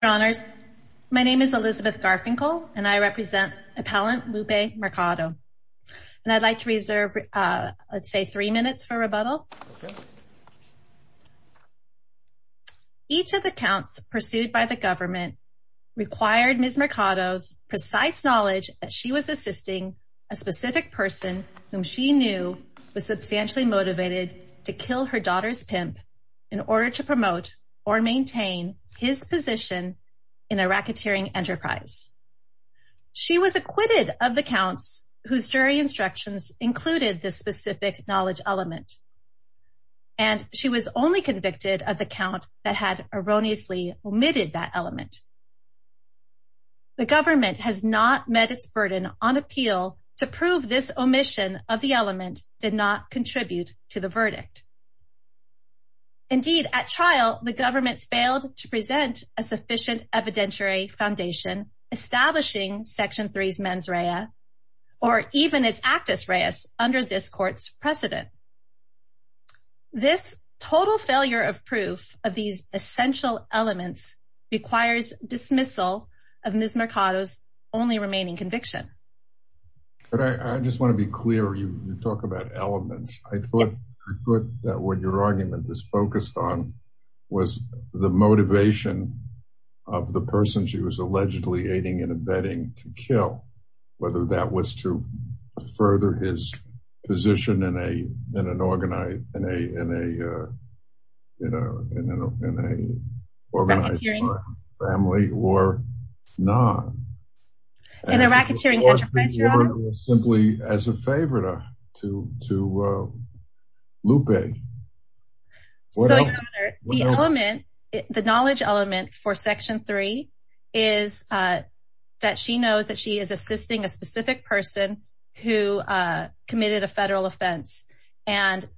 Your Honors, my name is Elizabeth Garfinkel and I represent Appellant Lupe Mercado and I'd like to reserve let's say three minutes for rebuttal. Each of the counts pursued by the government required Ms. Mercado's precise knowledge that she was assisting a specific person whom she knew was substantially motivated to kill her position in a racketeering enterprise. She was acquitted of the counts whose jury instructions included this specific knowledge element and she was only convicted of the count that had erroneously omitted that element. The government has not met its burden on appeal to prove this omission of the element did not contribute to the verdict. Indeed at trial the government failed to present a sufficient evidentiary foundation establishing Section 3's mens rea or even its actus reus under this court's precedent. This total failure of proof of these essential elements requires dismissal of Ms. Mercado's only remaining conviction. But I just want to be clear you talk about elements. I thought that what your argument was focused on was the motivation of the person she was allegedly aiding and abetting to kill whether that was to further his position in a in an organized in a in a you know in an organized family or not. In a racketeering enterprise your honor? Simply as a favor to to uh Lupe. So your honor the element the knowledge element for Section 3 is uh that she knows that she is assisting a specific person who uh committed a federal offense and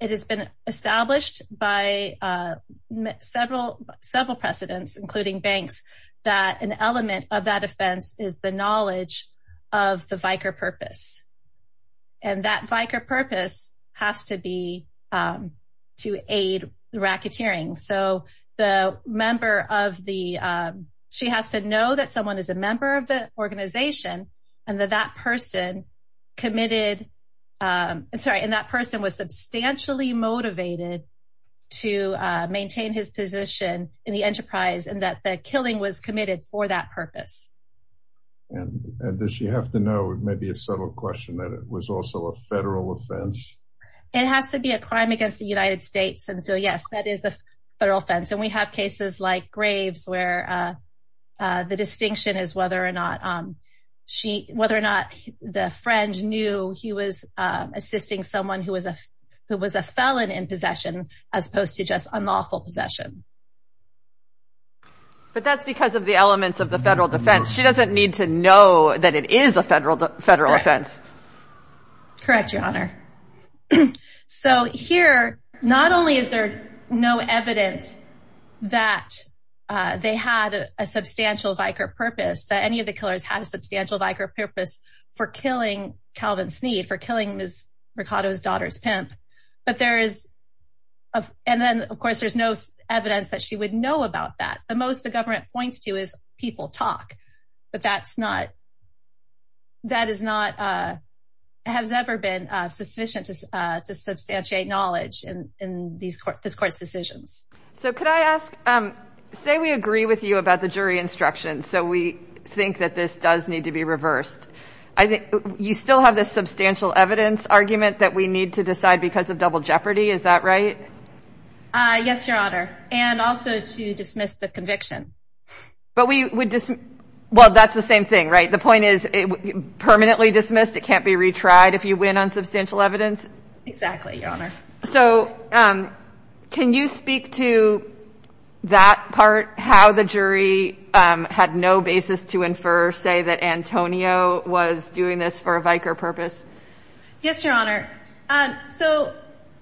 it has been established by uh several several precedents including banks that an element of that offense is the knowledge of the vicar purpose. And that vicar purpose has to be um to aid the racketeering. So the member of the um she has to know that someone is a member of the organization and that that person committed um sorry and that person was substantially motivated to uh maintain his position in the enterprise and that the killing was committed for that purpose. And does she have to know it may be a subtle question that it was also a federal offense? It has to be a crime against the United States and so yes that is a federal offense and we have graves where uh uh the distinction is whether or not um she whether or not the friend knew he was uh assisting someone who was a who was a felon in possession as opposed to just unlawful possession. But that's because of the elements of the federal defense she doesn't need to know that it is a federal federal offense. Correct your honor. So here not only is there no evidence that uh they had a substantial vicar purpose that any of the killers had a substantial vicar purpose for killing Calvin Sneed for killing Ms. Mercado's daughter's pimp. But there is of and then of course there's no evidence that she would know about that. The most the government points to is people talk but that's not that is not uh has ever been uh sufficient to uh to substantiate knowledge in in these court this court's decisions. So could I ask um say we agree with you about the jury instructions so we think that this does need to be reversed. I think you still have this substantial evidence argument that we need to decide because of double jeopardy is that right? Uh yes your honor and also to dismiss the conviction. But we would dismiss well that's the same thing right the point is it permanently dismissed it can't be retried if you win on substantial evidence. Exactly your honor. So um can you speak to that part how the jury um had no basis to infer say that Antonio was doing this for a vicar purpose? Yes your honor um so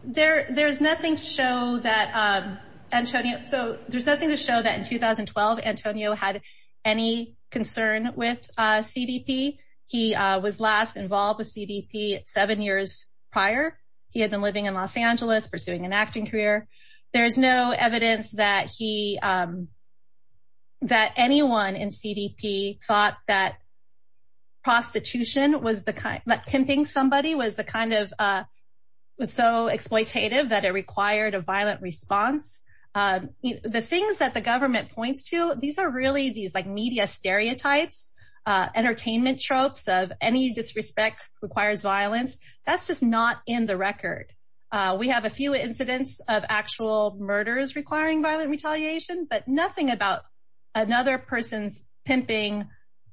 there there's nothing to show that um Antonio so there's nothing to show that in 2012 Antonio had any concern with uh CDP. He uh was last involved with CDP seven years prior. He had been living in Los Angeles pursuing an acting career. There's no evidence that he um that anyone in CDP thought that prostitution was the kind that pimping somebody was the kind of uh was so exploitative that it required a violent response. Um the things that the government points to these are really these like media stereotypes uh entertainment tropes of any disrespect requires violence that's just not in the record. Uh we have a few incidents of actual murders requiring violent retaliation but nothing about another person's pimping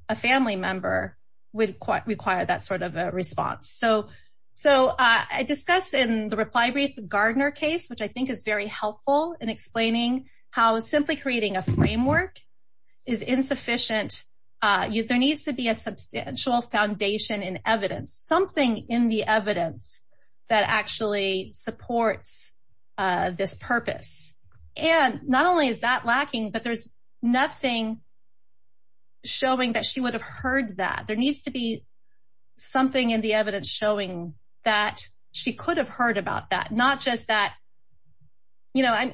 a family member would require that sort of a response. So so uh I discussed in the reply brief the Gardner case which I think is very helpful in explaining how simply creating a framework is insufficient. Uh there needs to be a substantial foundation in evidence something in the evidence that actually supports uh this purpose and not only is that lacking but there's nothing showing that she would have heard that. There needs to be something in the evidence showing that she could have heard about that not just that you know I'm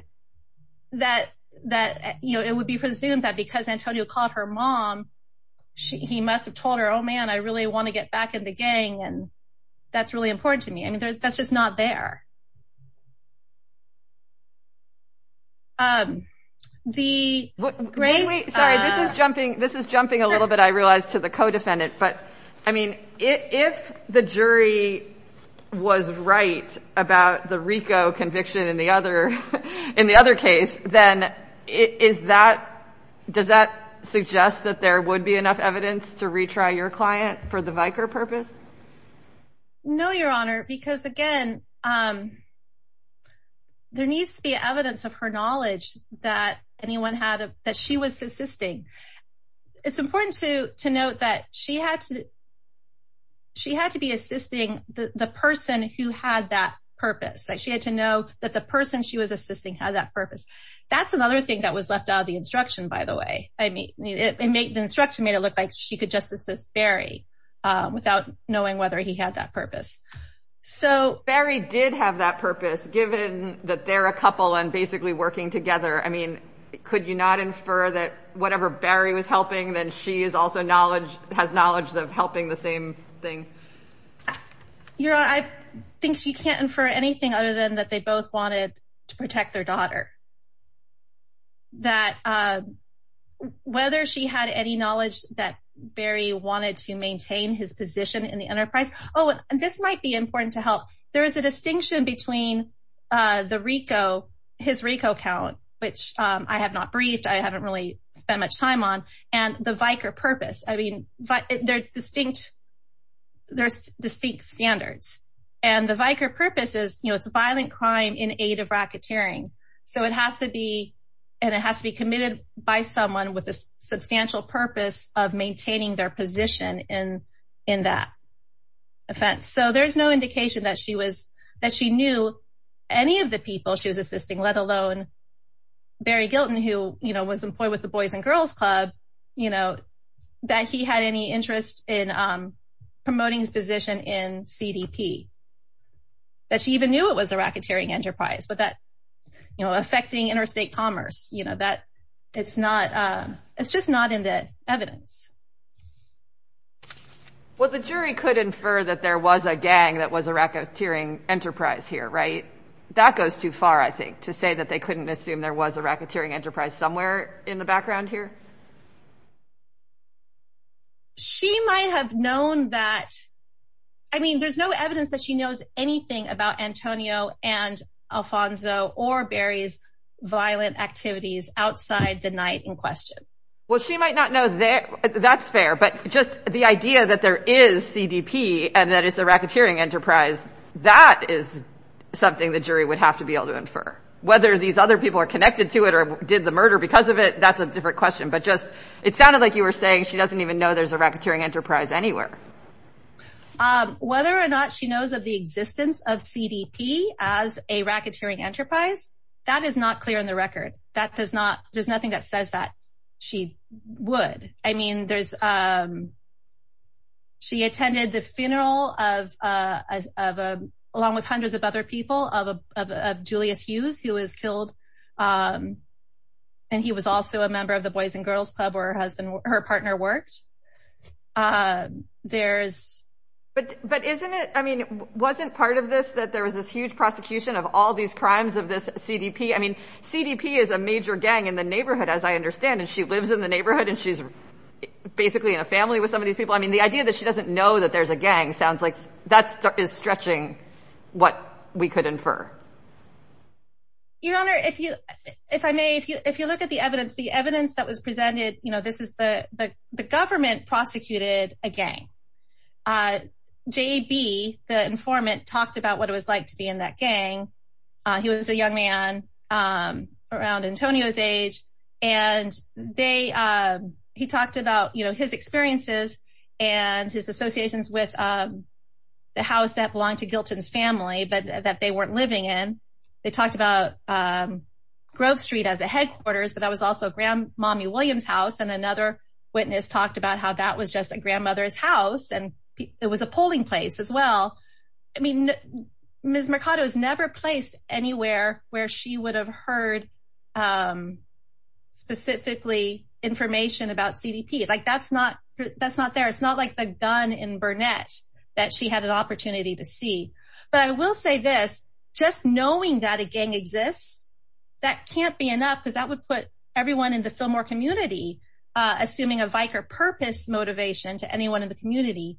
that that you know it would be presumed that because Antonio called her mom she he must have told her oh man I really want to get back in the gang and that's really important to me. I mean that's just not there. Um the great sorry this is jumping this is jumping a little bit I realized to the co-defendant but I mean if the jury was right about the Rico conviction in the other in the other case then is that does that suggest that there would be enough evidence to retry your client for the Vicar purpose? No your honor because again um there needs to be evidence of her knowledge that anyone had that she was assisting. It's important to to note that she had to she had to be assisting the the person who had that purpose like she had to know that the person she was assisting had that purpose. That's another thing that was left out of the instruction by the way. I mean it made the instruction made it look like she could just assist Barry without knowing whether he had that purpose. So Barry did have that purpose given that they're a I mean could you not infer that whatever Barry was helping then she is also knowledge has knowledge of helping the same thing? Your honor I think you can't infer anything other than that they both wanted to protect their daughter. That uh whether she had any knowledge that Barry wanted to maintain his position in the enterprise. Oh and this might be important to help there is a I have not briefed I haven't really spent much time on and the Vicar purpose. I mean they're distinct there's distinct standards and the Vicar purpose is you know it's a violent crime in aid of racketeering. So it has to be and it has to be committed by someone with a substantial purpose of maintaining their position in in that offense. So there's no indication that she was that she knew any of the people she was assisting let alone Barry Gilton who you know was employed with the Boys and Girls Club you know that he had any interest in um promoting his position in CDP. That she even knew it was a racketeering enterprise but that you know affecting interstate commerce you know that it's not uh it's just not in the evidence. Well the jury could infer that there was a gang that was a racketeering enterprise here right? That goes too far I think to say that they couldn't assume there was a racketeering enterprise somewhere in the background here. She might have known that I mean there's no evidence that she knows anything about Antonio and Alfonso or Barry's violent activities outside the night in question. Well she might not know that's fair but just the idea that there is CDP and that it's a racketeering enterprise that is something the jury would have to be able to infer. Whether these other people are connected to it or did the murder because of it that's a different question but just it sounded like you were saying she doesn't even know there's a racketeering enterprise anywhere. Whether or not she knows of the existence of CDP as a racketeering enterprise that is not clear in the record. That does not there's nothing that says that she would. I mean there's um she attended the funeral of uh of a along with hundreds of other people of a of Julius Hughes who was killed um and he was also a member of the boys and girls club where her husband her partner worked. Um there's but but isn't it I mean wasn't part of this that there was this huge prosecution of all these crimes of this CDP. I mean CDP is a major gang in the neighborhood as I understand and she lives in the neighborhood and she's basically in a family with some of these people. I mean the idea that she doesn't know that there's a gang sounds like that is stretching what we could infer. Your honor if you if I may if you if you look at the evidence the evidence that was presented you know this is the the government prosecuted a gang. Uh JB the informant talked about what it was like to be in that gang. Uh he was a young man um around Antonio's age and they um he talked about you know his experiences and his associations with um the house that belonged to Gilton's family but that they weren't living in. They talked about um Grove Street as a headquarters but that was also a grand mommy William's house and another witness talked about how that was just a grandmother's house and it was a polling place as well. I mean Ms. Mercado is never placed anywhere where she would have heard um specifically information about CDP. Like that's not that's not there. It's not like the gun in Burnett that she had an opportunity to see but I will say this just knowing that a gang exists that can't be enough because that would put everyone in the Fillmore community uh assuming a vicar purpose motivation to anyone in the community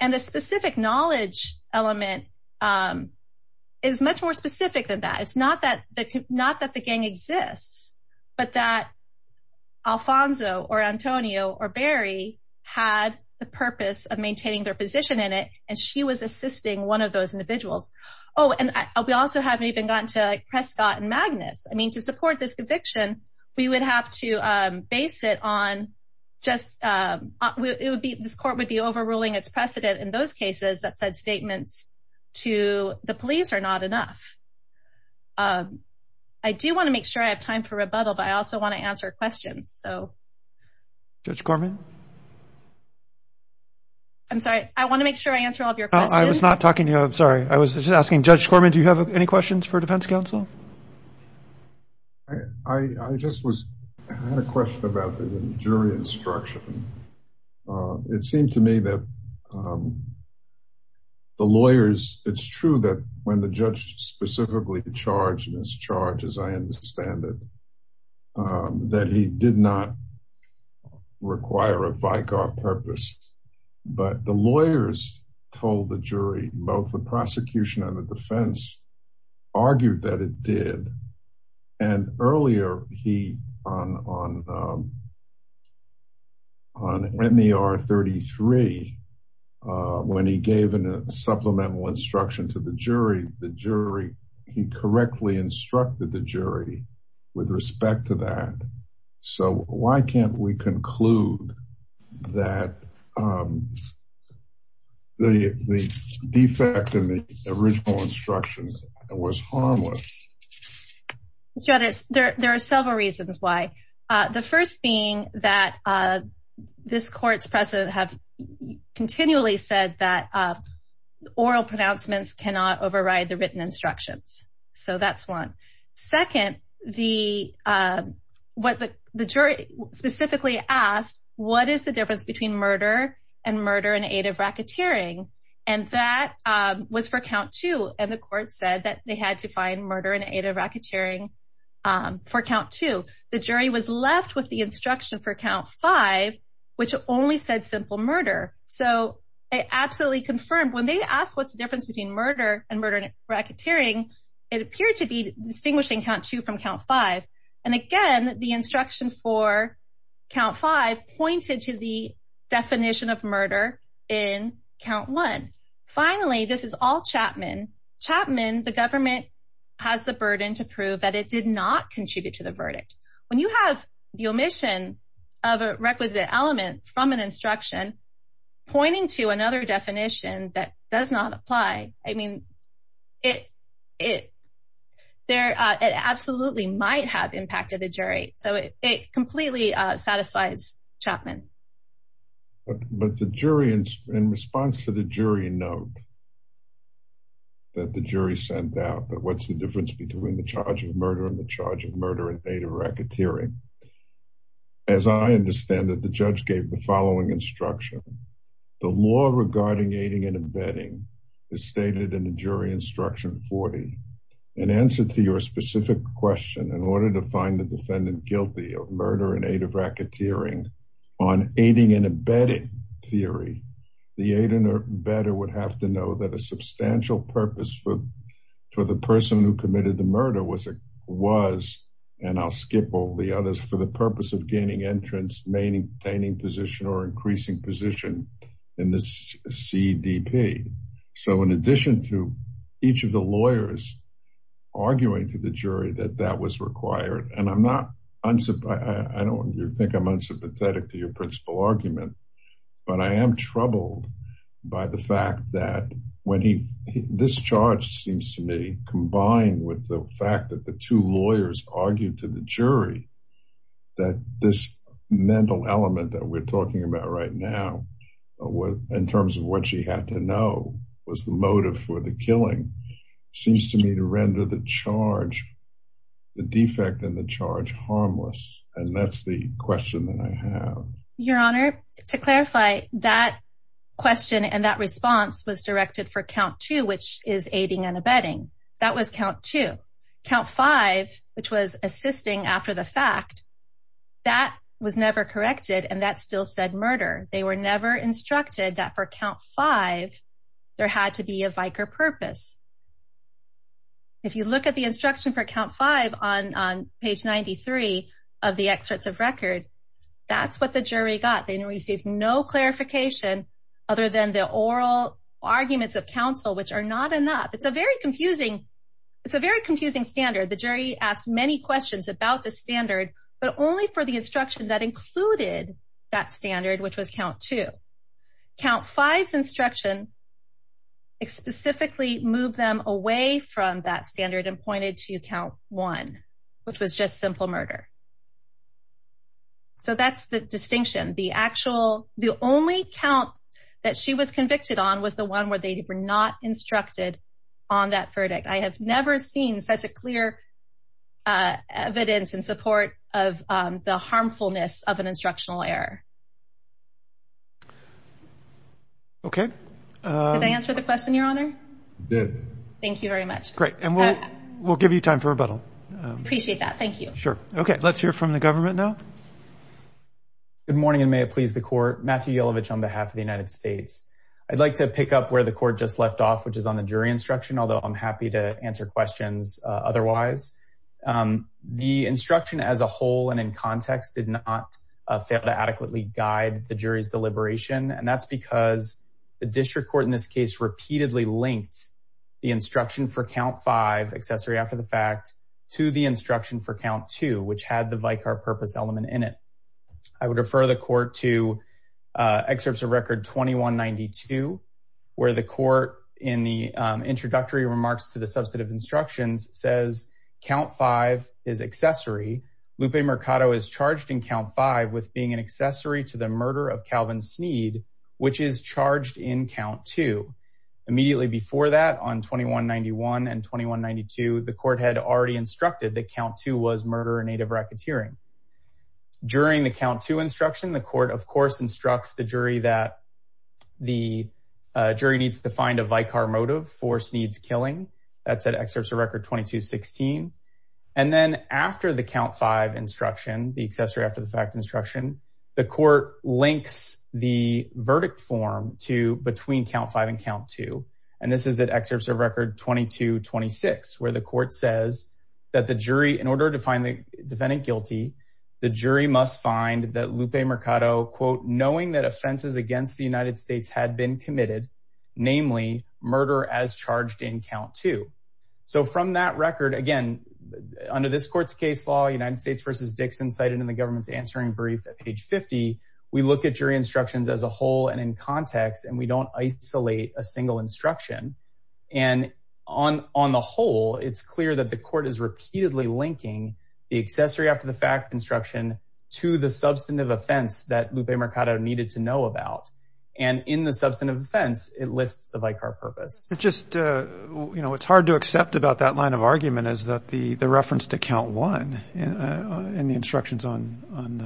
and the specific knowledge element um is much more specific than that. It's not that the not that the gang exists but that Alfonso or Antonio or Barry had the purpose of maintaining their position in it and she was assisting one of those individuals. Oh and we also haven't even gotten to like Prescott and just um it would be this court would be overruling its precedent in those cases that said statements to the police are not enough. I do want to make sure I have time for rebuttal but I also want to answer questions so. Judge Corman? I'm sorry I want to make sure I answer all of your questions. I was not talking to you I'm sorry I was just asking Judge Corman do you have any for defense counsel? I just was I had a question about the jury instruction. It seemed to me that um the lawyers it's true that when the judge specifically charged this charge as I understand it um that he did not require a vicar purpose but the lawyers told the jury both the prosecution and the defense argued that it did and earlier he on on on NER 33 when he gave a supplemental instruction to the jury the jury he correctly instructed the that um the the defect in the original instructions was harmless. Mr. Edwards there are several reasons why uh the first being that uh this court's precedent have continually said that uh oral pronouncements cannot override the written instructions so that's one. Second the um what the jury specifically asked what is the difference between murder and murder and aid of racketeering and that um was for count two and the court said that they had to find murder and aid of racketeering um for count two the jury was left with the instruction for count five which only said simple murder so it absolutely confirmed when they asked what's the difference between murder and murder and racketeering it appeared to be distinguishing count two from count five and again the instruction for count five pointed to the definition of murder in count one finally this is all Chapman Chapman the government has the burden to prove that it did not contribute to the verdict when you have the omission of a requisite element from an instruction pointing to another definition that does not apply I mean it it there uh it absolutely might have impacted the jury so it completely uh satisfies Chapman but the jury in response to the jury note that the jury sent out that what's the difference between the charge of murder and the charge of murder and aid of racketeering as I understand that the judge gave the following instruction the law regarding aiding and abetting is stated in the jury instruction 40 an answer to your specific question in order to find the defendant guilty of murder and aid of racketeering on aiding and abetting theory the aid and abetter would have to know that a substantial purpose for for the person who committed the murder was a was and I'll skip all the others for the purpose of pdp so in addition to each of the lawyers arguing to the jury that that was required and I'm not unsupplied I don't you think I'm unsympathetic to your principal argument but I am troubled by the fact that when he this charge seems to me combined with the fact that the two lawyers argued to the jury that this mental element that we're talking about right now in terms of what she had to know was the motive for the killing seems to me to render the charge the defect and the charge harmless and that's the question that I have your honor to clarify that question and that response was directed for count two which is aiding and abetting that was count two count five which was assisting after the fact that was never corrected and that said murder they were never instructed that for count five there had to be a vicar purpose if you look at the instruction for count five on on page 93 of the excerpts of record that's what the jury got they received no clarification other than the oral arguments of counsel which are not enough it's a very confusing it's a very confusing standard the jury asked many questions about the standard which was count two count five's instruction specifically moved them away from that standard and pointed to count one which was just simple murder so that's the distinction the actual the only count that she was convicted on was the one where they were not instructed on that verdict I have never seen such a clear evidence in support of the harmfulness of an instructional error okay did I answer the question your honor good thank you very much great and we'll we'll give you time for rebuttal appreciate that thank you sure okay let's hear from the government now good morning and may it please the court Matthew Yelovich on behalf of the United States I'd like to pick up where the court just left off which is on the jury instruction although I'm happy to answer questions otherwise the instruction as a whole and in failed to adequately guide the jury's deliberation and that's because the district court in this case repeatedly linked the instruction for count five accessory after the fact to the instruction for count two which had the vicar purpose element in it I would refer the court to excerpts of record 2192 where the court in the introductory remarks to the substantive instructions says count five is accessory Lupe Mercado is charged in count five with being an accessory to the murder of Calvin Sneed which is charged in count two immediately before that on 2191 and 2192 the court had already instructed that count two was murder or native racketeering during the count two instruction the court of course instructs the jury that the jury needs to find a vicar motive for Sneed's killing that's at excerpts of record 2216 and then after the count five instruction the accessory after the fact instruction the court links the verdict form to between count five and count two and this is at excerpts of record 2226 where the court says that the jury in order to find the defendant guilty the jury must find that Lupe Mercado quote knowing that offenses against the United States had been committed namely murder as charged in count two so from that record again under this court's case law United States versus Dixon cited in the government's answering brief at page 50 we look at jury instructions as a whole and in context and we don't isolate a single instruction and on on the whole it's clear that the court is repeatedly linking the accessory after the fact instruction to the substantive offense that Lupe Mercado needed to know about and in the substantive offense it lists the vicar purpose just uh you know it's hard to accept about that line of argument is that the the reference to count one and the instructions on on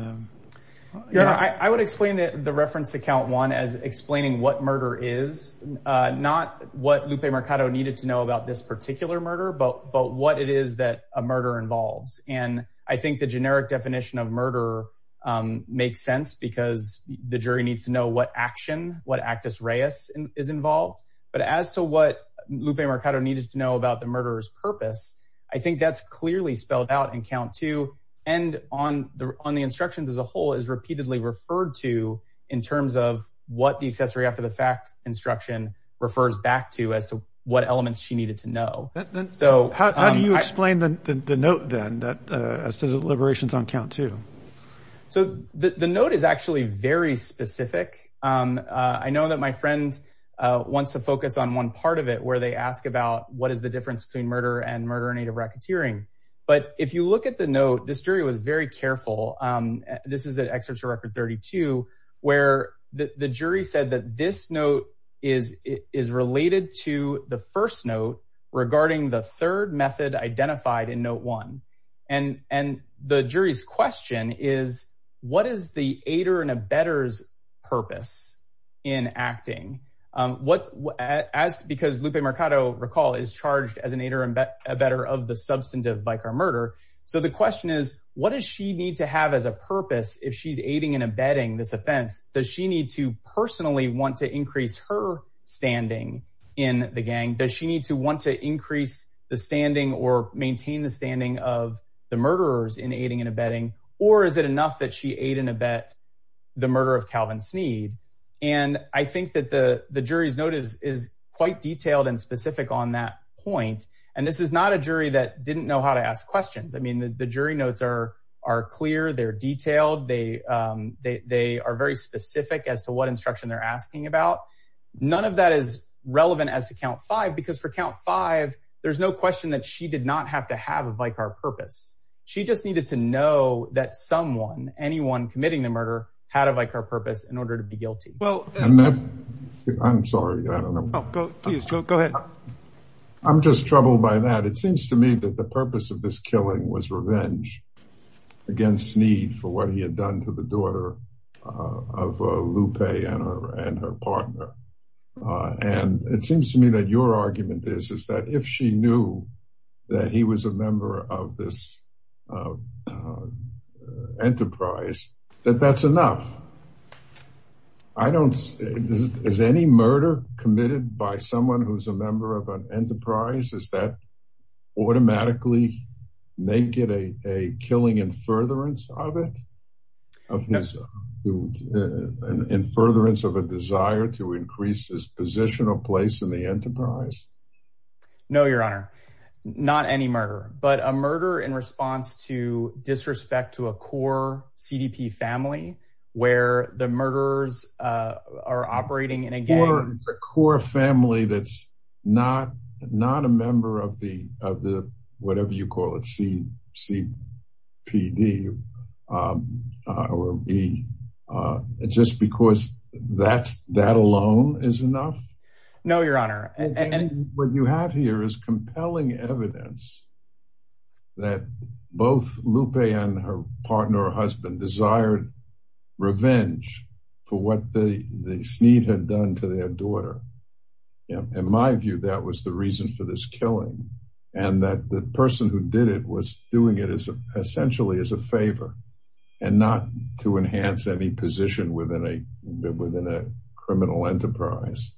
the yeah I would explain that the reference to count one as explaining what murder is not what Lupe Mercado needed to know about this particular murder but but what it is that a murder involves and I think the generic definition of murder um makes sense because the jury needs to know what action what actus reus is involved but as to what Lupe Mercado needed to know about the murderer's purpose I think that's clearly spelled out in count two and on the on the instructions as a whole is repeatedly referred to in terms of what the accessory after the fact instruction refers back to as to what elements she needed to know so how do you explain the the note then that uh as to the liberations on count two so the the note is actually very specific um I know that my friend uh wants to focus on one part of it where they ask about what is the difference between murder and murder native racketeering but if you look at the note this jury was very careful um this is at excerpt 32 where the the jury said that this note is is related to the first note regarding the third method identified in note one and and the jury's question is what is the aider and abettor's purpose in acting um what as because Lupe Mercado recall is charged as an aider and better of the substantive by car murder so the question is what does she need to have as a abetting this offense does she need to personally want to increase her standing in the gang does she need to want to increase the standing or maintain the standing of the murderers in aiding and abetting or is it enough that she ate in a bet the murder of Calvin Sneed and I think that the the jury's notice is quite detailed and specific on that point and this is not a jury that didn't know how to ask questions I mean the jury notes are are clear they're detailed they um they they are very specific as to what instruction they're asking about none of that is relevant as to count five because for count five there's no question that she did not have to have a vicar purpose she just needed to know that someone anyone committing the murder had a vicar purpose in order to be guilty well I'm sorry I don't know go go ahead I'm just troubled by that it seems to me that the purpose of this killing was revenge against Sneed for what he had done to the daughter of Lupe and her and her partner and it seems to me that your argument is is that if she knew that he was a member of this enterprise that that's enough I don't is any murder committed by someone who's a member of an enterprise is that automatically make it a a killing in furtherance of it of his in furtherance of a desire to increase his position or place in the enterprise no your honor not any murder but a murder in response to disrespect to a core cdp family where the murderers uh are operating and again it's a core family that's not not a member of the of the whatever you call it c c p d um uh or b uh just because that's that alone is enough no your honor and what you have here is compelling evidence that both Lupe and her partner or husband desired revenge for what the the Sneed had done to their daughter you know in my view that was the reason for this killing and that the person who did it was doing it as essentially as a favor and not to enhance any position within a within a criminal enterprise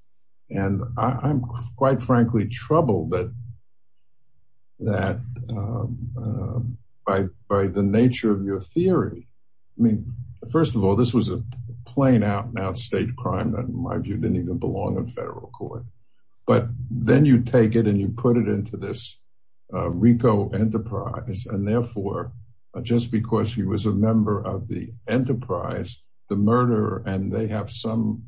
and I'm quite frankly troubled that that um by by the nature of your theory I mean first of all this was a plain out and out state crime that in my view didn't even belong in federal court but then you take it and you put it into this Rico enterprise and therefore just because he was a member of the enterprise the murder and they have some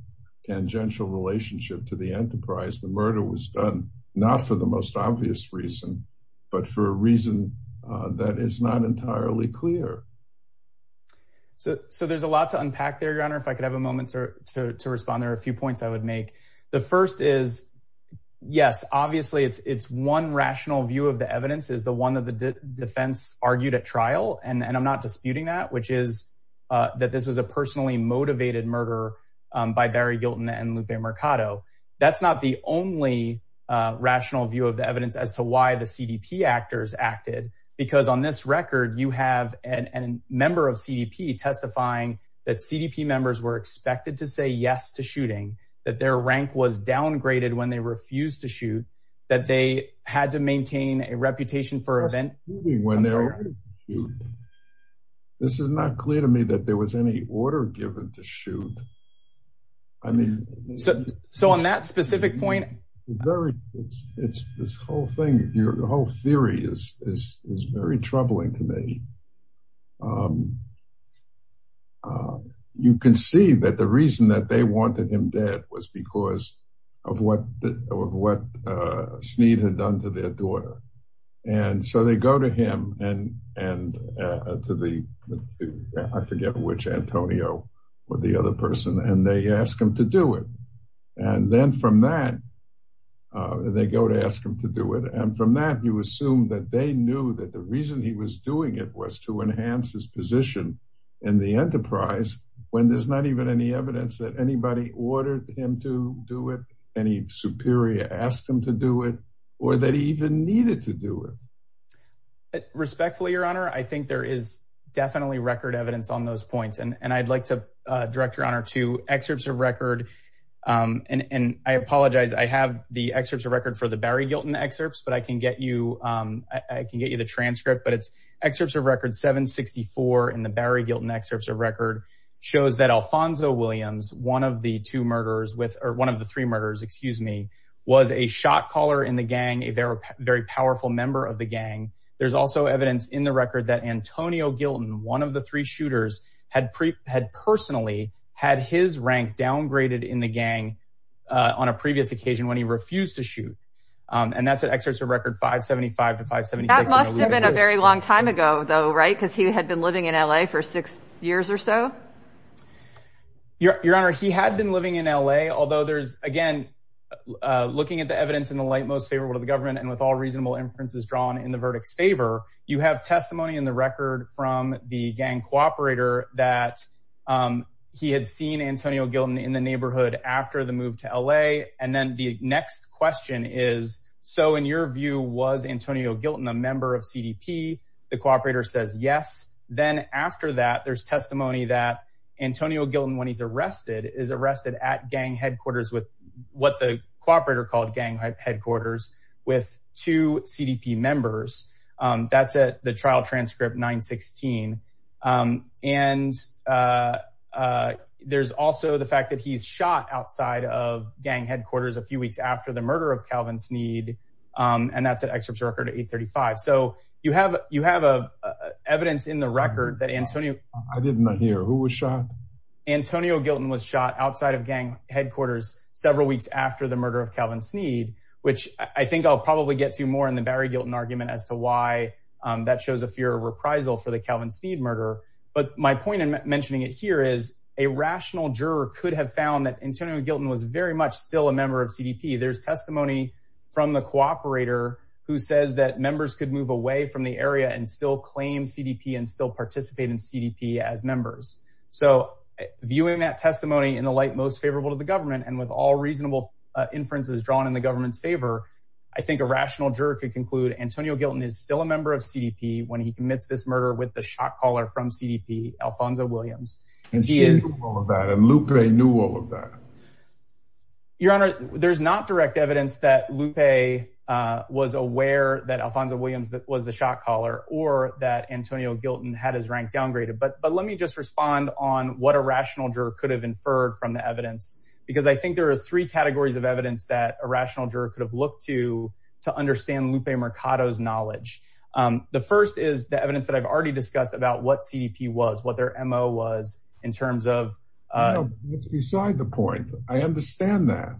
tangential relationship to the enterprise the murder was done not for the most obvious reason but for a reason uh that is not entirely clear so so there's a lot to unpack there your honor if I could have a moment to respond there are a few points I would make the first is yes obviously it's it's one rational view of the which is uh that this was a personally motivated murder by Barry Gilton and Lupe Mercado that's not the only uh rational view of the evidence as to why the CDP actors acted because on this record you have an a member of CDP testifying that CDP members were expected to say yes to shooting that their rank was downgraded when they refused to shoot that they had to maintain a reputation for event when they're you this is not clear to me that there was any order given to shoot I mean so so on that specific point very it's it's this whole thing your whole theory is is is very troubling to me um um you can see that the reason that they wanted him dead was because of what what uh Snead had done to their daughter and so they go to him and and to the I forget which Antonio or the other person and they ask him to do it and then from that they go to ask him to do it and from that you assume that they knew that the reason he was doing it was to enhance his position in the enterprise when there's not even any evidence that anybody ordered him to do it any superior asked him to do it or that he even needed to do it respectfully your honor I think there is definitely record evidence on those points and and I'd like to uh direct your honor to excerpts of record um and and I apologize I have the excerpts of record for the Barry Gilton excerpts but I can get you um I can get you the transcript but it's excerpts of record 764 in the Barry Gilton excerpts of record shows that Alfonso Williams one of the two murderers with or one of the three murderers excuse me was a shot caller in the gang a very very powerful member of the gang there's also evidence in the record that Antonio Gilton one of the three shooters had pre had personally had his rank downgraded in the gang on a previous occasion when he refused to shoot um and that's an excerpt of record 575 to 576 that must have been a very long time ago though right because he had been living in LA for six years or so your your honor he had been living in LA although there's again uh looking at the evidence in the light most favorable to the government and with all reasonable inferences drawn in the verdict's favor you have testimony in the record from the gang cooperator that um he had seen Antonio Gilton in the neighborhood after the move to LA and then the next question is so in your view was Antonio Gilton a member of CDP the cooperator says yes then after that there's testimony that Antonio Gilton when he's arrested is arrested at gang headquarters with what the cooperator called gang headquarters with two CDP members um that's at the trial transcript 916 um and uh uh there's also the fact that he's shot outside of gang headquarters a few weeks after the murder of Calvin Sneed um and that's an excerpt of record 835 so you have you have a evidence in the record that Antonio I did not hear who was shot Antonio Gilton was shot outside of gang headquarters several weeks after the murder of Calvin Sneed which I think I'll probably get to more in the Barry Gilton argument as to why um that shows a fear of reprisal for the Calvin Sneed murder but my point in mentioning it here is a rational juror could have found that Antonio Gilton was very much still a member of CDP there's testimony from the cooperator who says that participate in CDP as members so viewing that testimony in the light most favorable to the government and with all reasonable inferences drawn in the government's favor I think a rational juror could conclude Antonio Gilton is still a member of CDP when he commits this murder with the shot caller from CDP Alfonso Williams and he is all of that and Lupe knew all of that your honor there's not direct evidence that Lupe uh was aware that Alfonso Williams was the Antonio Gilton had his rank downgraded but but let me just respond on what a rational juror could have inferred from the evidence because I think there are three categories of evidence that a rational juror could have looked to to understand Lupe Mercado's knowledge um the first is the evidence that I've already discussed about what CDP was what their mo was in terms of uh beside the point I understand that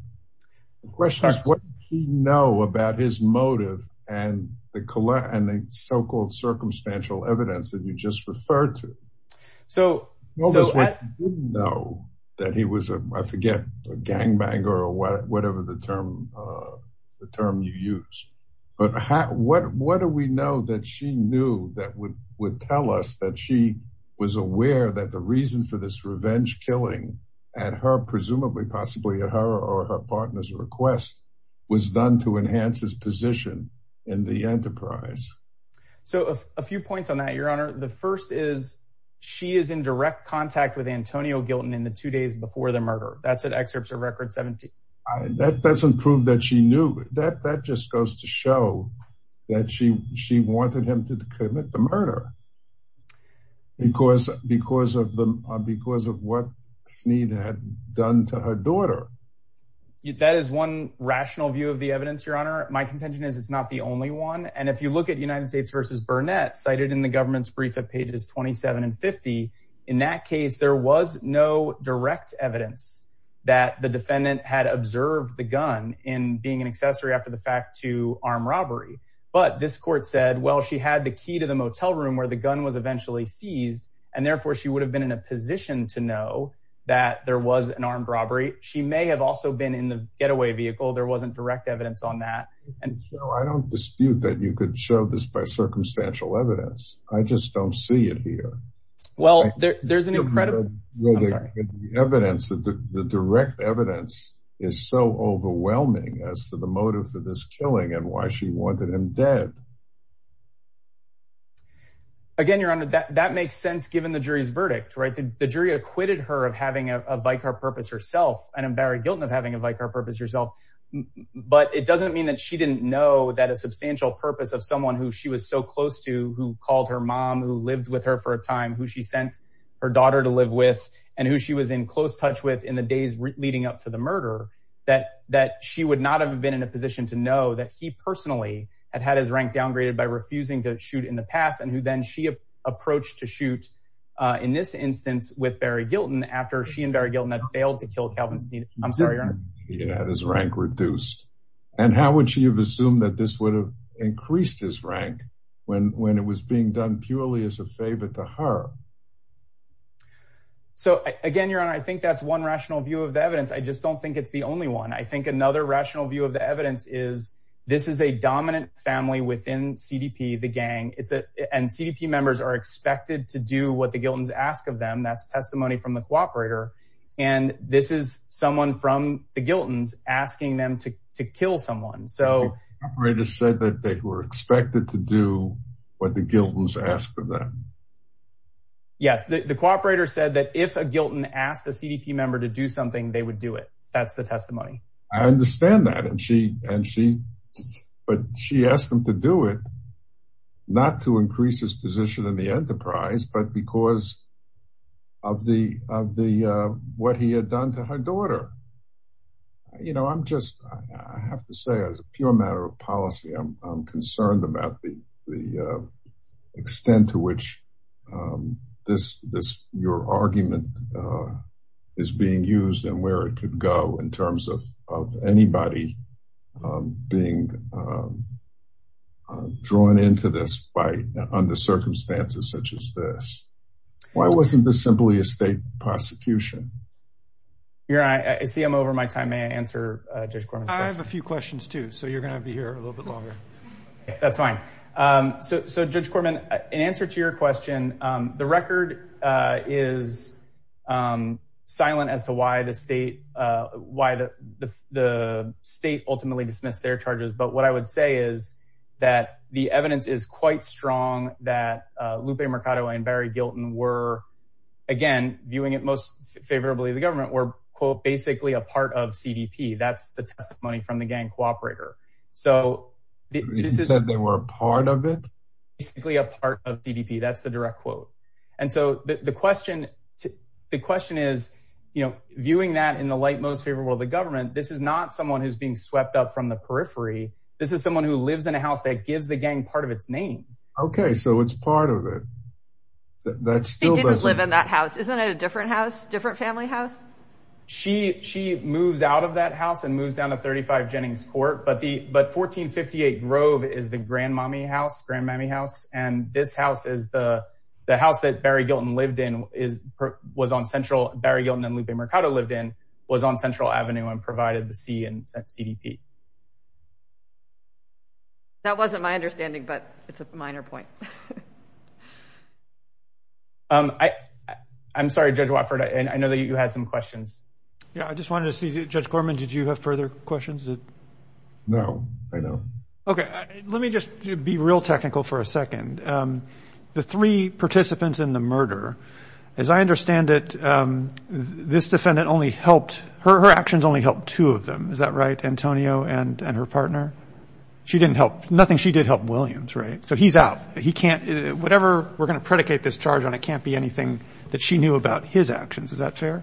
the question is what do you know about his motive and the color and the circumstantial evidence that you just referred to so what was what you didn't know that he was a I forget a gangbanger or whatever the term uh the term you use but how what what do we know that she knew that would would tell us that she was aware that the reason for this revenge killing at her presumably possibly at her or her partner's request was done to enhance his position in the enterprise so a few points on that your honor the first is she is in direct contact with Antonio Gilton in the two days before the murder that's an excerpt of record 17 that doesn't prove that she knew that that just goes to show that she she wanted him to commit the murder because because of the because of what Snead had done to her daughter that is one rational view of the one and if you look at United States versus Burnett cited in the government's brief at pages 27 and 50 in that case there was no direct evidence that the defendant had observed the gun in being an accessory after the fact to armed robbery but this court said well she had the key to the motel room where the gun was eventually seized and therefore she would have been in a position to know that there was an armed robbery she may have also been in the getaway vehicle there wasn't direct evidence on that and I don't dispute that you could show this by circumstantial evidence I just don't see it here well there's an incredible evidence that the direct evidence is so overwhelming as to the motive for this killing and why she wanted him dead again your honor that that makes sense given the jury's verdict right the jury acquitted her of having a vicar purpose herself but it doesn't mean that she didn't know that a substantial purpose of someone who she was so close to who called her mom who lived with her for a time who she sent her daughter to live with and who she was in close touch with in the days leading up to the murder that that she would not have been in a position to know that he personally had had his rank downgraded by refusing to shoot in the past and who then she approached to shoot uh in this he had his rank reduced and how would she have assumed that this would have increased his rank when when it was being done purely as a favor to her so again your honor I think that's one rational view of the evidence I just don't think it's the only one I think another rational view of the evidence is this is a dominant family within cdp the gang it's a and cdp members are expected to do what the giltons ask of them that's testimony from the cooperator and this is someone from the giltons asking them to to kill someone so operator said that they were expected to do what the giltons asked of them yes the cooperator said that if a gilton asked a cdp member to do something they would do it that's the testimony I understand that and she and she but she asked him to do it not to increase his position in the of the what he had done to her daughter you know I'm just I have to say as a pure matter of policy I'm I'm concerned about the the extent to which this this your argument is being used and where it could go in terms of of anybody being drawn into this by under circumstances such as this why wasn't this simply a state prosecution you're right I see I'm over my time may I answer Judge Corman I have a few questions too so you're going to be here a little bit longer that's fine um so so Judge Corman in answer to your question um the record uh is um silent as to why the state uh why the the state ultimately dismissed their charges but what I would say is that the evidence is quite strong that Lupe Mercado and Barry Gilton were again viewing it most favorably the government were quote basically a part of cdp that's the testimony from the gang cooperator so they said they were a part of it basically a part of cdp that's the direct quote and so the question the question is you know viewing that in the light most favorable the government this is not someone who's being swept up from the periphery this is someone who lives in a house that gives the gang part of its name okay so it's part of it that still doesn't live in that house isn't it a different house different family house she she moves out of that house and moves down to 35 jennings court but the but 1458 grove is the grandmommy house grandmommy house and this house is the the house that barry gilton lived in is was on central barry gilton and lupe that wasn't my understanding but it's a minor point um i i'm sorry judge wofford and i know that you had some questions yeah i just wanted to see judge gorman did you have further questions no i know okay let me just be real technical for a second um the three participants in the murder as i understand it um this defendant only helped her actions only helped two of them is that right antonio and and her partner she didn't help nothing she did help williams right so he's out he can't whatever we're going to predicate this charge on it can't be anything that she knew about his actions is that fair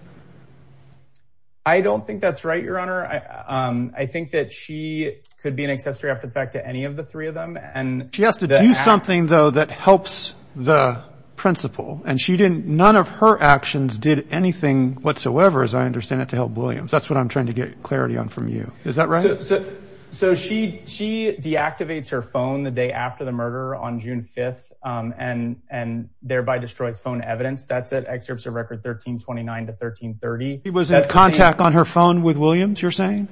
i don't think that's right your honor i um i think that she could be an accessory after the fact to any of the three of them and she has to do something though that helps the principal and she didn't none of her actions did anything whatsoever as i understand it to help williams that's what i'm trying to get clarity on from you is that right so she she deactivates her phone the day after the murder on june 5th um and and thereby destroys phone evidence that's at excerpts of record 13 29 to 13 30 he was in contact on her phone with williams you're saying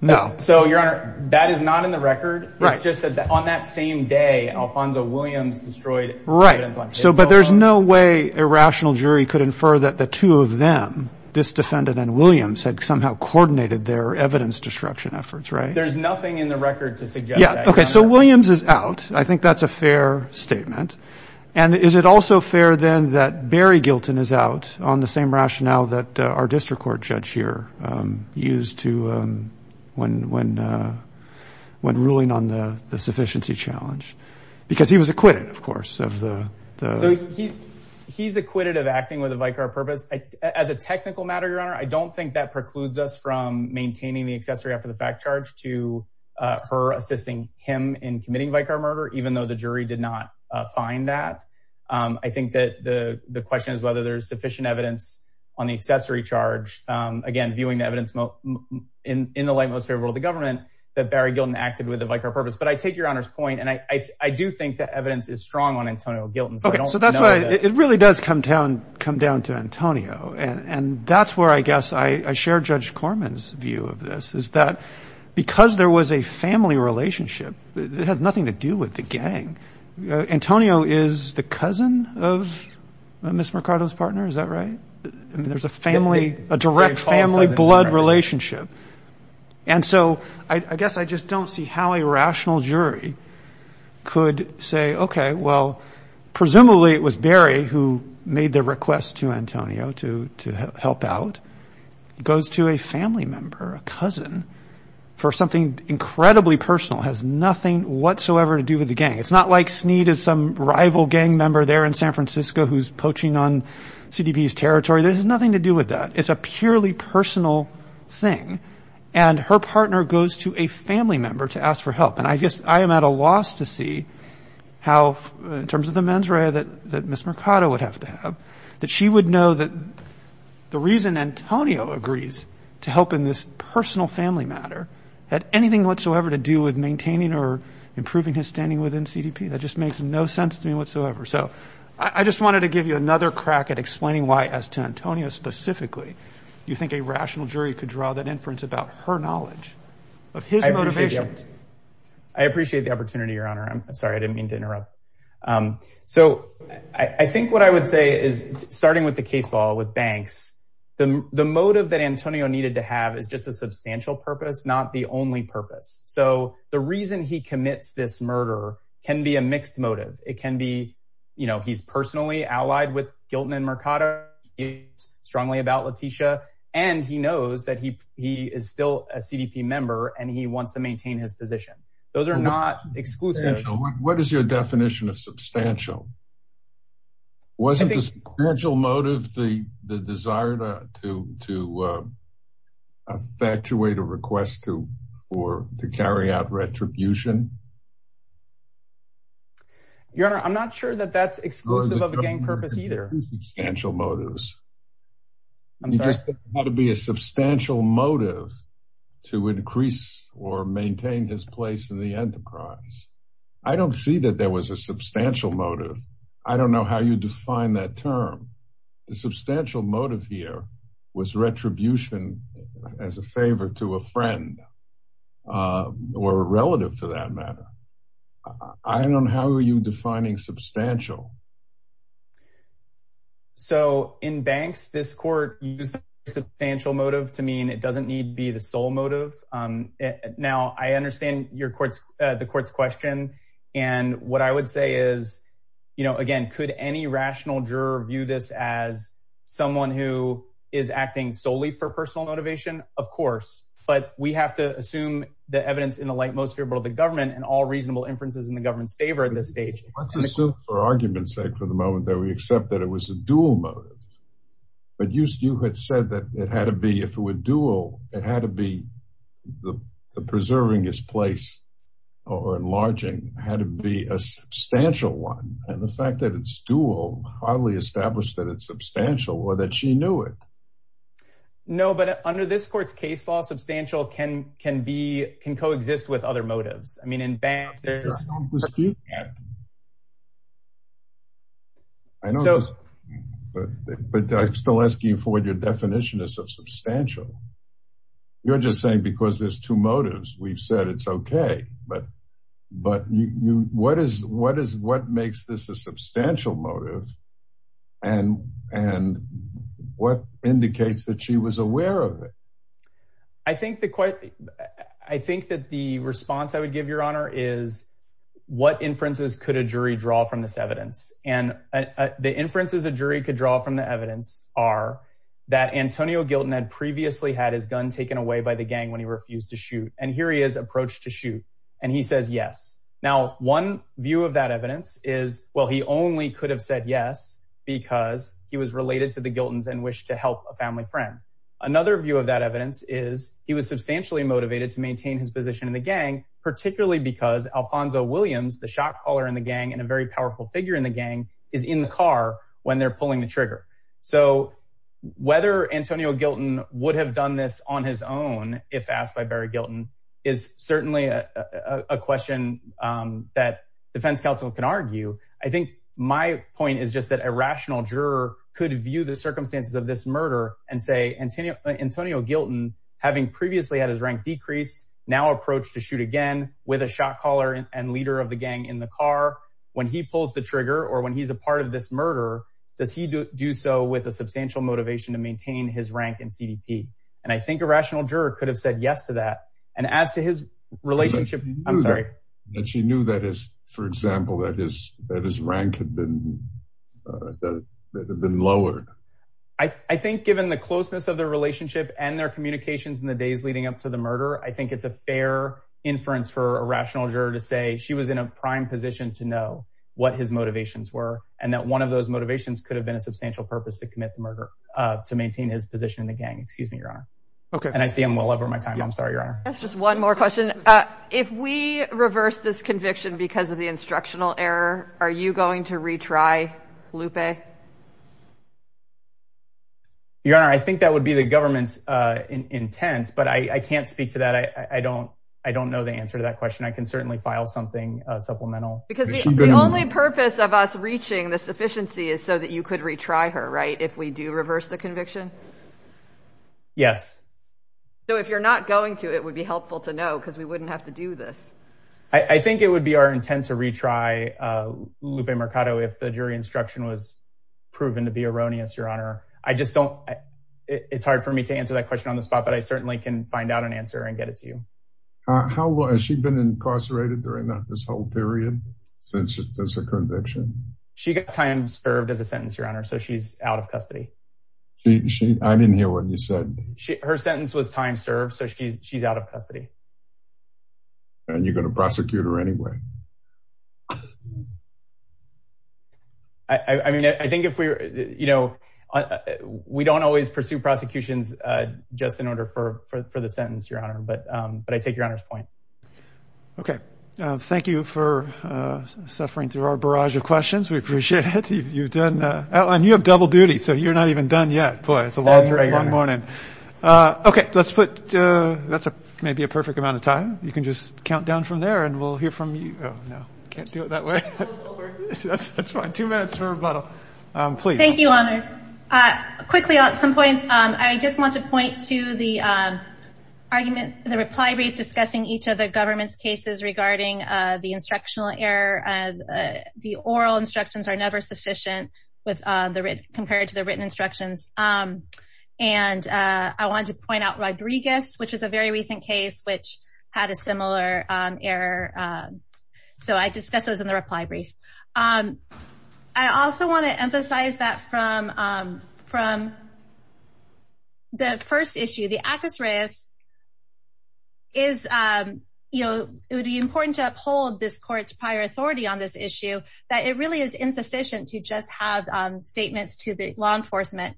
no so your honor that is not in the record right just that on that same day alfonso williams destroyed right so but there's no way a rational jury could infer that the two of them this defendant and williams had somehow coordinated their evidence destruction efforts right there's nothing in the record to suggest yeah okay so williams is out i think that's a fair statement and is it also fair then that barry gilton is out on the same rationale that our district court judge here um used to um when when uh when ruling on the the sufficiency challenge because he was acquitted of course of the so he he's acquitted of acting with a vicar purpose as a technical matter your honor i don't think that precludes us from maintaining the accessory after the fact charge to uh her assisting him in committing vicar murder even though the jury did not uh find that um i think that the the question is whether there's sufficient evidence on the accessory charge um again viewing the evidence in in the light most that barry gilton acted with a vicar purpose but i take your honor's point and i i do think the evidence is strong on antonio gilton okay so that's why it really does come down come down to antonio and and that's where i guess i i share judge corman's view of this is that because there was a family relationship it had nothing to do with the gang antonio is the cousin of miss mercado's and so i i guess i just don't see how a rational jury could say okay well presumably it was barry who made the request to antonio to to help out goes to a family member a cousin for something incredibly personal has nothing whatsoever to do with the gang it's not like sneed is some rival gang member there in san francisco who's poaching on cdb's territory there's nothing to her partner goes to a family member to ask for help and i guess i am at a loss to see how in terms of the mens rea that that miss mercado would have to have that she would know that the reason antonio agrees to help in this personal family matter had anything whatsoever to do with maintaining or improving his standing within cdp that just makes no sense to me whatsoever so i just wanted to give you another crack at explaining why as to antonio specifically you think a rational jury could draw that inference about her knowledge of his motivation i appreciate the opportunity your honor i'm sorry i didn't mean to interrupt um so i i think what i would say is starting with the case law with banks the the motive that antonio needed to have is just a substantial purpose not the only purpose so the reason he commits this murder can be a mixed motive it can be you know he's personally allied with gilton and mercado he's strongly about latisha and he knows that he he is still a cdp member and he wants to maintain his position those are not exclusive what is your definition of substantial wasn't this gradual motive the the desire to to uh effectuate a request to for to carry out retribution your honor i'm not sure that that's exclusive of the gang purpose either substantial motives had to be a substantial motive to increase or maintain his place in the enterprise i don't see that there was a substantial motive i don't know how you define that term the substantial motive here was retribution as a favor to a friend or a relative for that matter i don't know how are you defining substantial so in banks this court used a substantial motive to mean it doesn't need be the sole motive um now i understand your courts uh the court's question and what i would say is you know again could any rational juror view this as someone who is acting solely for personal motivation of course but we have to assume the evidence in the light most favorable the government and all reasonable inferences in the government's favor in this stage let's assume for argument's sake for the moment that we accept that it was a dual motive but you you had said that it had to be if it were dual it had to be the preserving his place or enlarging had to be a substantial one and the stool hardly established that it's substantial or that she knew it no but under this court's case law substantial can can be can coexist with other motives i mean in banks i know but but i'm still asking for what your definition is of substantial you're just saying because there's two motives we've said it's okay but but you you what is what is what makes this a substantial motive and and what indicates that she was aware of it i think the quite i think that the response i would give your honor is what inferences could a jury draw from this evidence and the inferences a jury could draw from the evidence are that antonio gilton had previously had his gun taken away by the gang when he refused to shoot and here he is approached to shoot and he says yes now one view of that evidence is well he only could have said yes because he was related to the giltons and wished to help a family friend another view of that evidence is he was substantially motivated to maintain his position in the gang particularly because alfonso williams the shot caller in the gang and a very powerful figure in the gang is in the car when they're pulling the trigger so whether antonio gilton would have done this on his own if asked by barry gilton is certainly a a question um that defense counsel can argue i think my point is just that a rational juror could view the circumstances of this murder and say antonio antonio gilton having previously had his rank decreased now approached to shoot again with a shot caller and leader of the gang in the car when he pulls the trigger or when he's a part of this murder does he do so with a substantial motivation to maintain his rank in cdp and i think a rational juror could have said yes to that and as to his relationship i'm sorry that she knew that is for example that his that his rank had been uh that had been lowered i i think given the closeness of their relationship and their communications in the days leading up to the murder i think it's a fair inference for a rational juror to say she was in a prime position to know what his motivations were and that one of motivations could have been a substantial purpose to commit the murder uh to maintain his position in the gang excuse me your honor okay and i see i'm well over my time i'm sorry your honor that's just one more question uh if we reverse this conviction because of the instructional error are you going to retry lupe your honor i think that would be the government's uh intent but i i can't speak to that i i don't i don't know the answer to that question i can certainly file something uh supplemental because the only purpose of us reaching the sufficiency is so that you could retry her right if we do reverse the conviction yes so if you're not going to it would be helpful to know because we wouldn't have to do this i i think it would be our intent to retry uh lupe mercado if the jury instruction was proven to be erroneous your honor i just don't it's hard for me to answer that question on the spot but i certainly can find out an answer and get it to you how has she been incarcerated during that this whole period since it's a conviction she got time served as a sentence your honor so she's out of custody she she i didn't hear what you said she her sentence was time served so she's she's out of custody and you're going to prosecute her anyway i i mean i think if we you know we don't always pursue prosecutions uh just in order for for the sentence your honor but um but i take your honor's point okay uh thank you for uh suffering through our barrage of questions we appreciate it you've done uh outline you have double duty so you're not even done yet boy it's a long morning uh okay let's put uh that's a maybe a perfect amount of time you can just count down from there and we'll hear from you oh no i can't do it that way that's fine two minutes for rebuttal um please thank you honor uh quickly at some points um i just want to point to the um argument the reply brief discussing each of the government's cases regarding uh the instructional error uh the oral instructions are never sufficient with uh the compared to the written instructions um and uh i wanted to point out rodriguez which is a very recent case which had a similar um error so i discussed those in the reply brief um i also want to emphasize that from um from the first issue the actus reus is um you know it would be important to uphold this court's prior authority on this issue that it really is insufficient to just have um statements to the law enforcement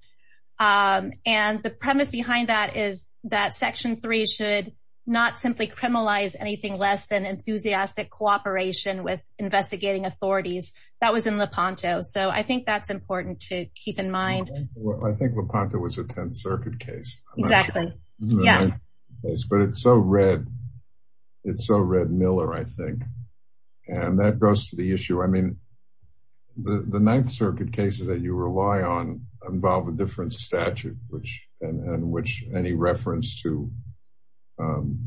um and the premise behind that is that section three should not simply criminalize anything less than enthusiastic cooperation with investigating authorities that was in lepanto so i think that's important to keep in mind i think lepanto was a 10th circuit case exactly yeah but it's so red it's so red miller i think and that goes to the issue i mean the the ninth circuit cases that you rely on involve a different statute which and which any reference to um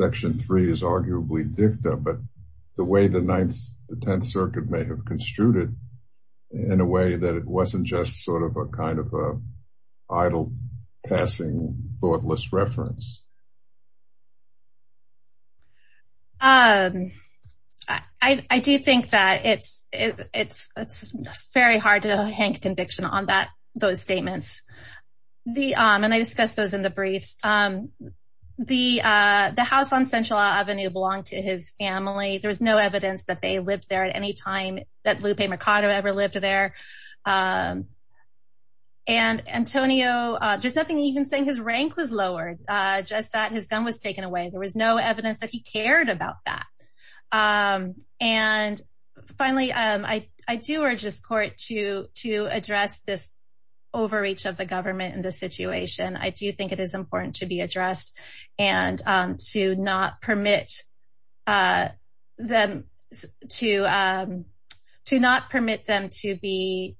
section three is arguably dicta but the way the ninth the 10th circuit may have construed it in a way that it wasn't just sort of a kind of a idle passing thoughtless reference um i i do think that it's it's it's very hard to hang conviction on that those statements the um and i discussed those in the briefs um the uh the house on central avenue belonged to his family there was no evidence that they lived there at any time that lupe mercado ever lived there um and antonio uh there's nothing even saying his rank was lowered uh just that his gun was taken away there was no evidence that he cared about that um and finally um i i do urge to address this overreach of the government in this situation i do think it is important to be addressed and um to not permit uh them to um to not permit them to be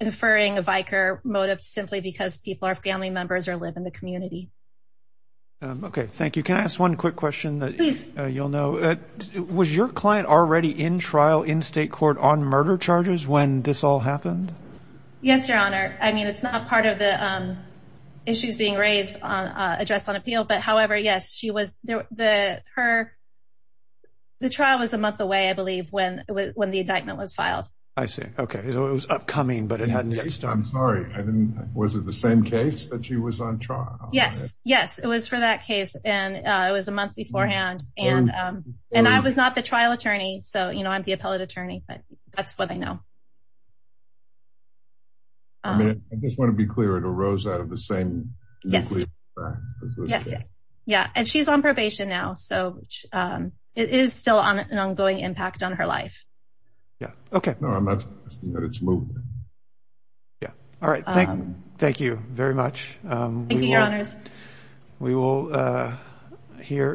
inferring a viker motive simply because people are family members or live in the community um okay thank you can i ask one quick question that you'll know that was your client already in trial in state court on murder charges when this all happened yes your honor i mean it's not part of the um issues being raised on uh addressed on appeal but however yes she was the her the trial was a month away i believe when it was when the indictment was filed i see okay it was upcoming but it hadn't yet i'm sorry i didn't was it the same case that she was on trial yes yes it was for that case and uh it was a month beforehand and um and i was not the trial attorney so you know i'm the appellate attorney but that's what i know i mean i just want to be clear it arose out of the same yes yes yes yeah and she's on probation now so um it is still on an ongoing impact on her life yeah okay no i'm not that it's moved yeah all right thank you thank you very much um thank you your honors we will uh here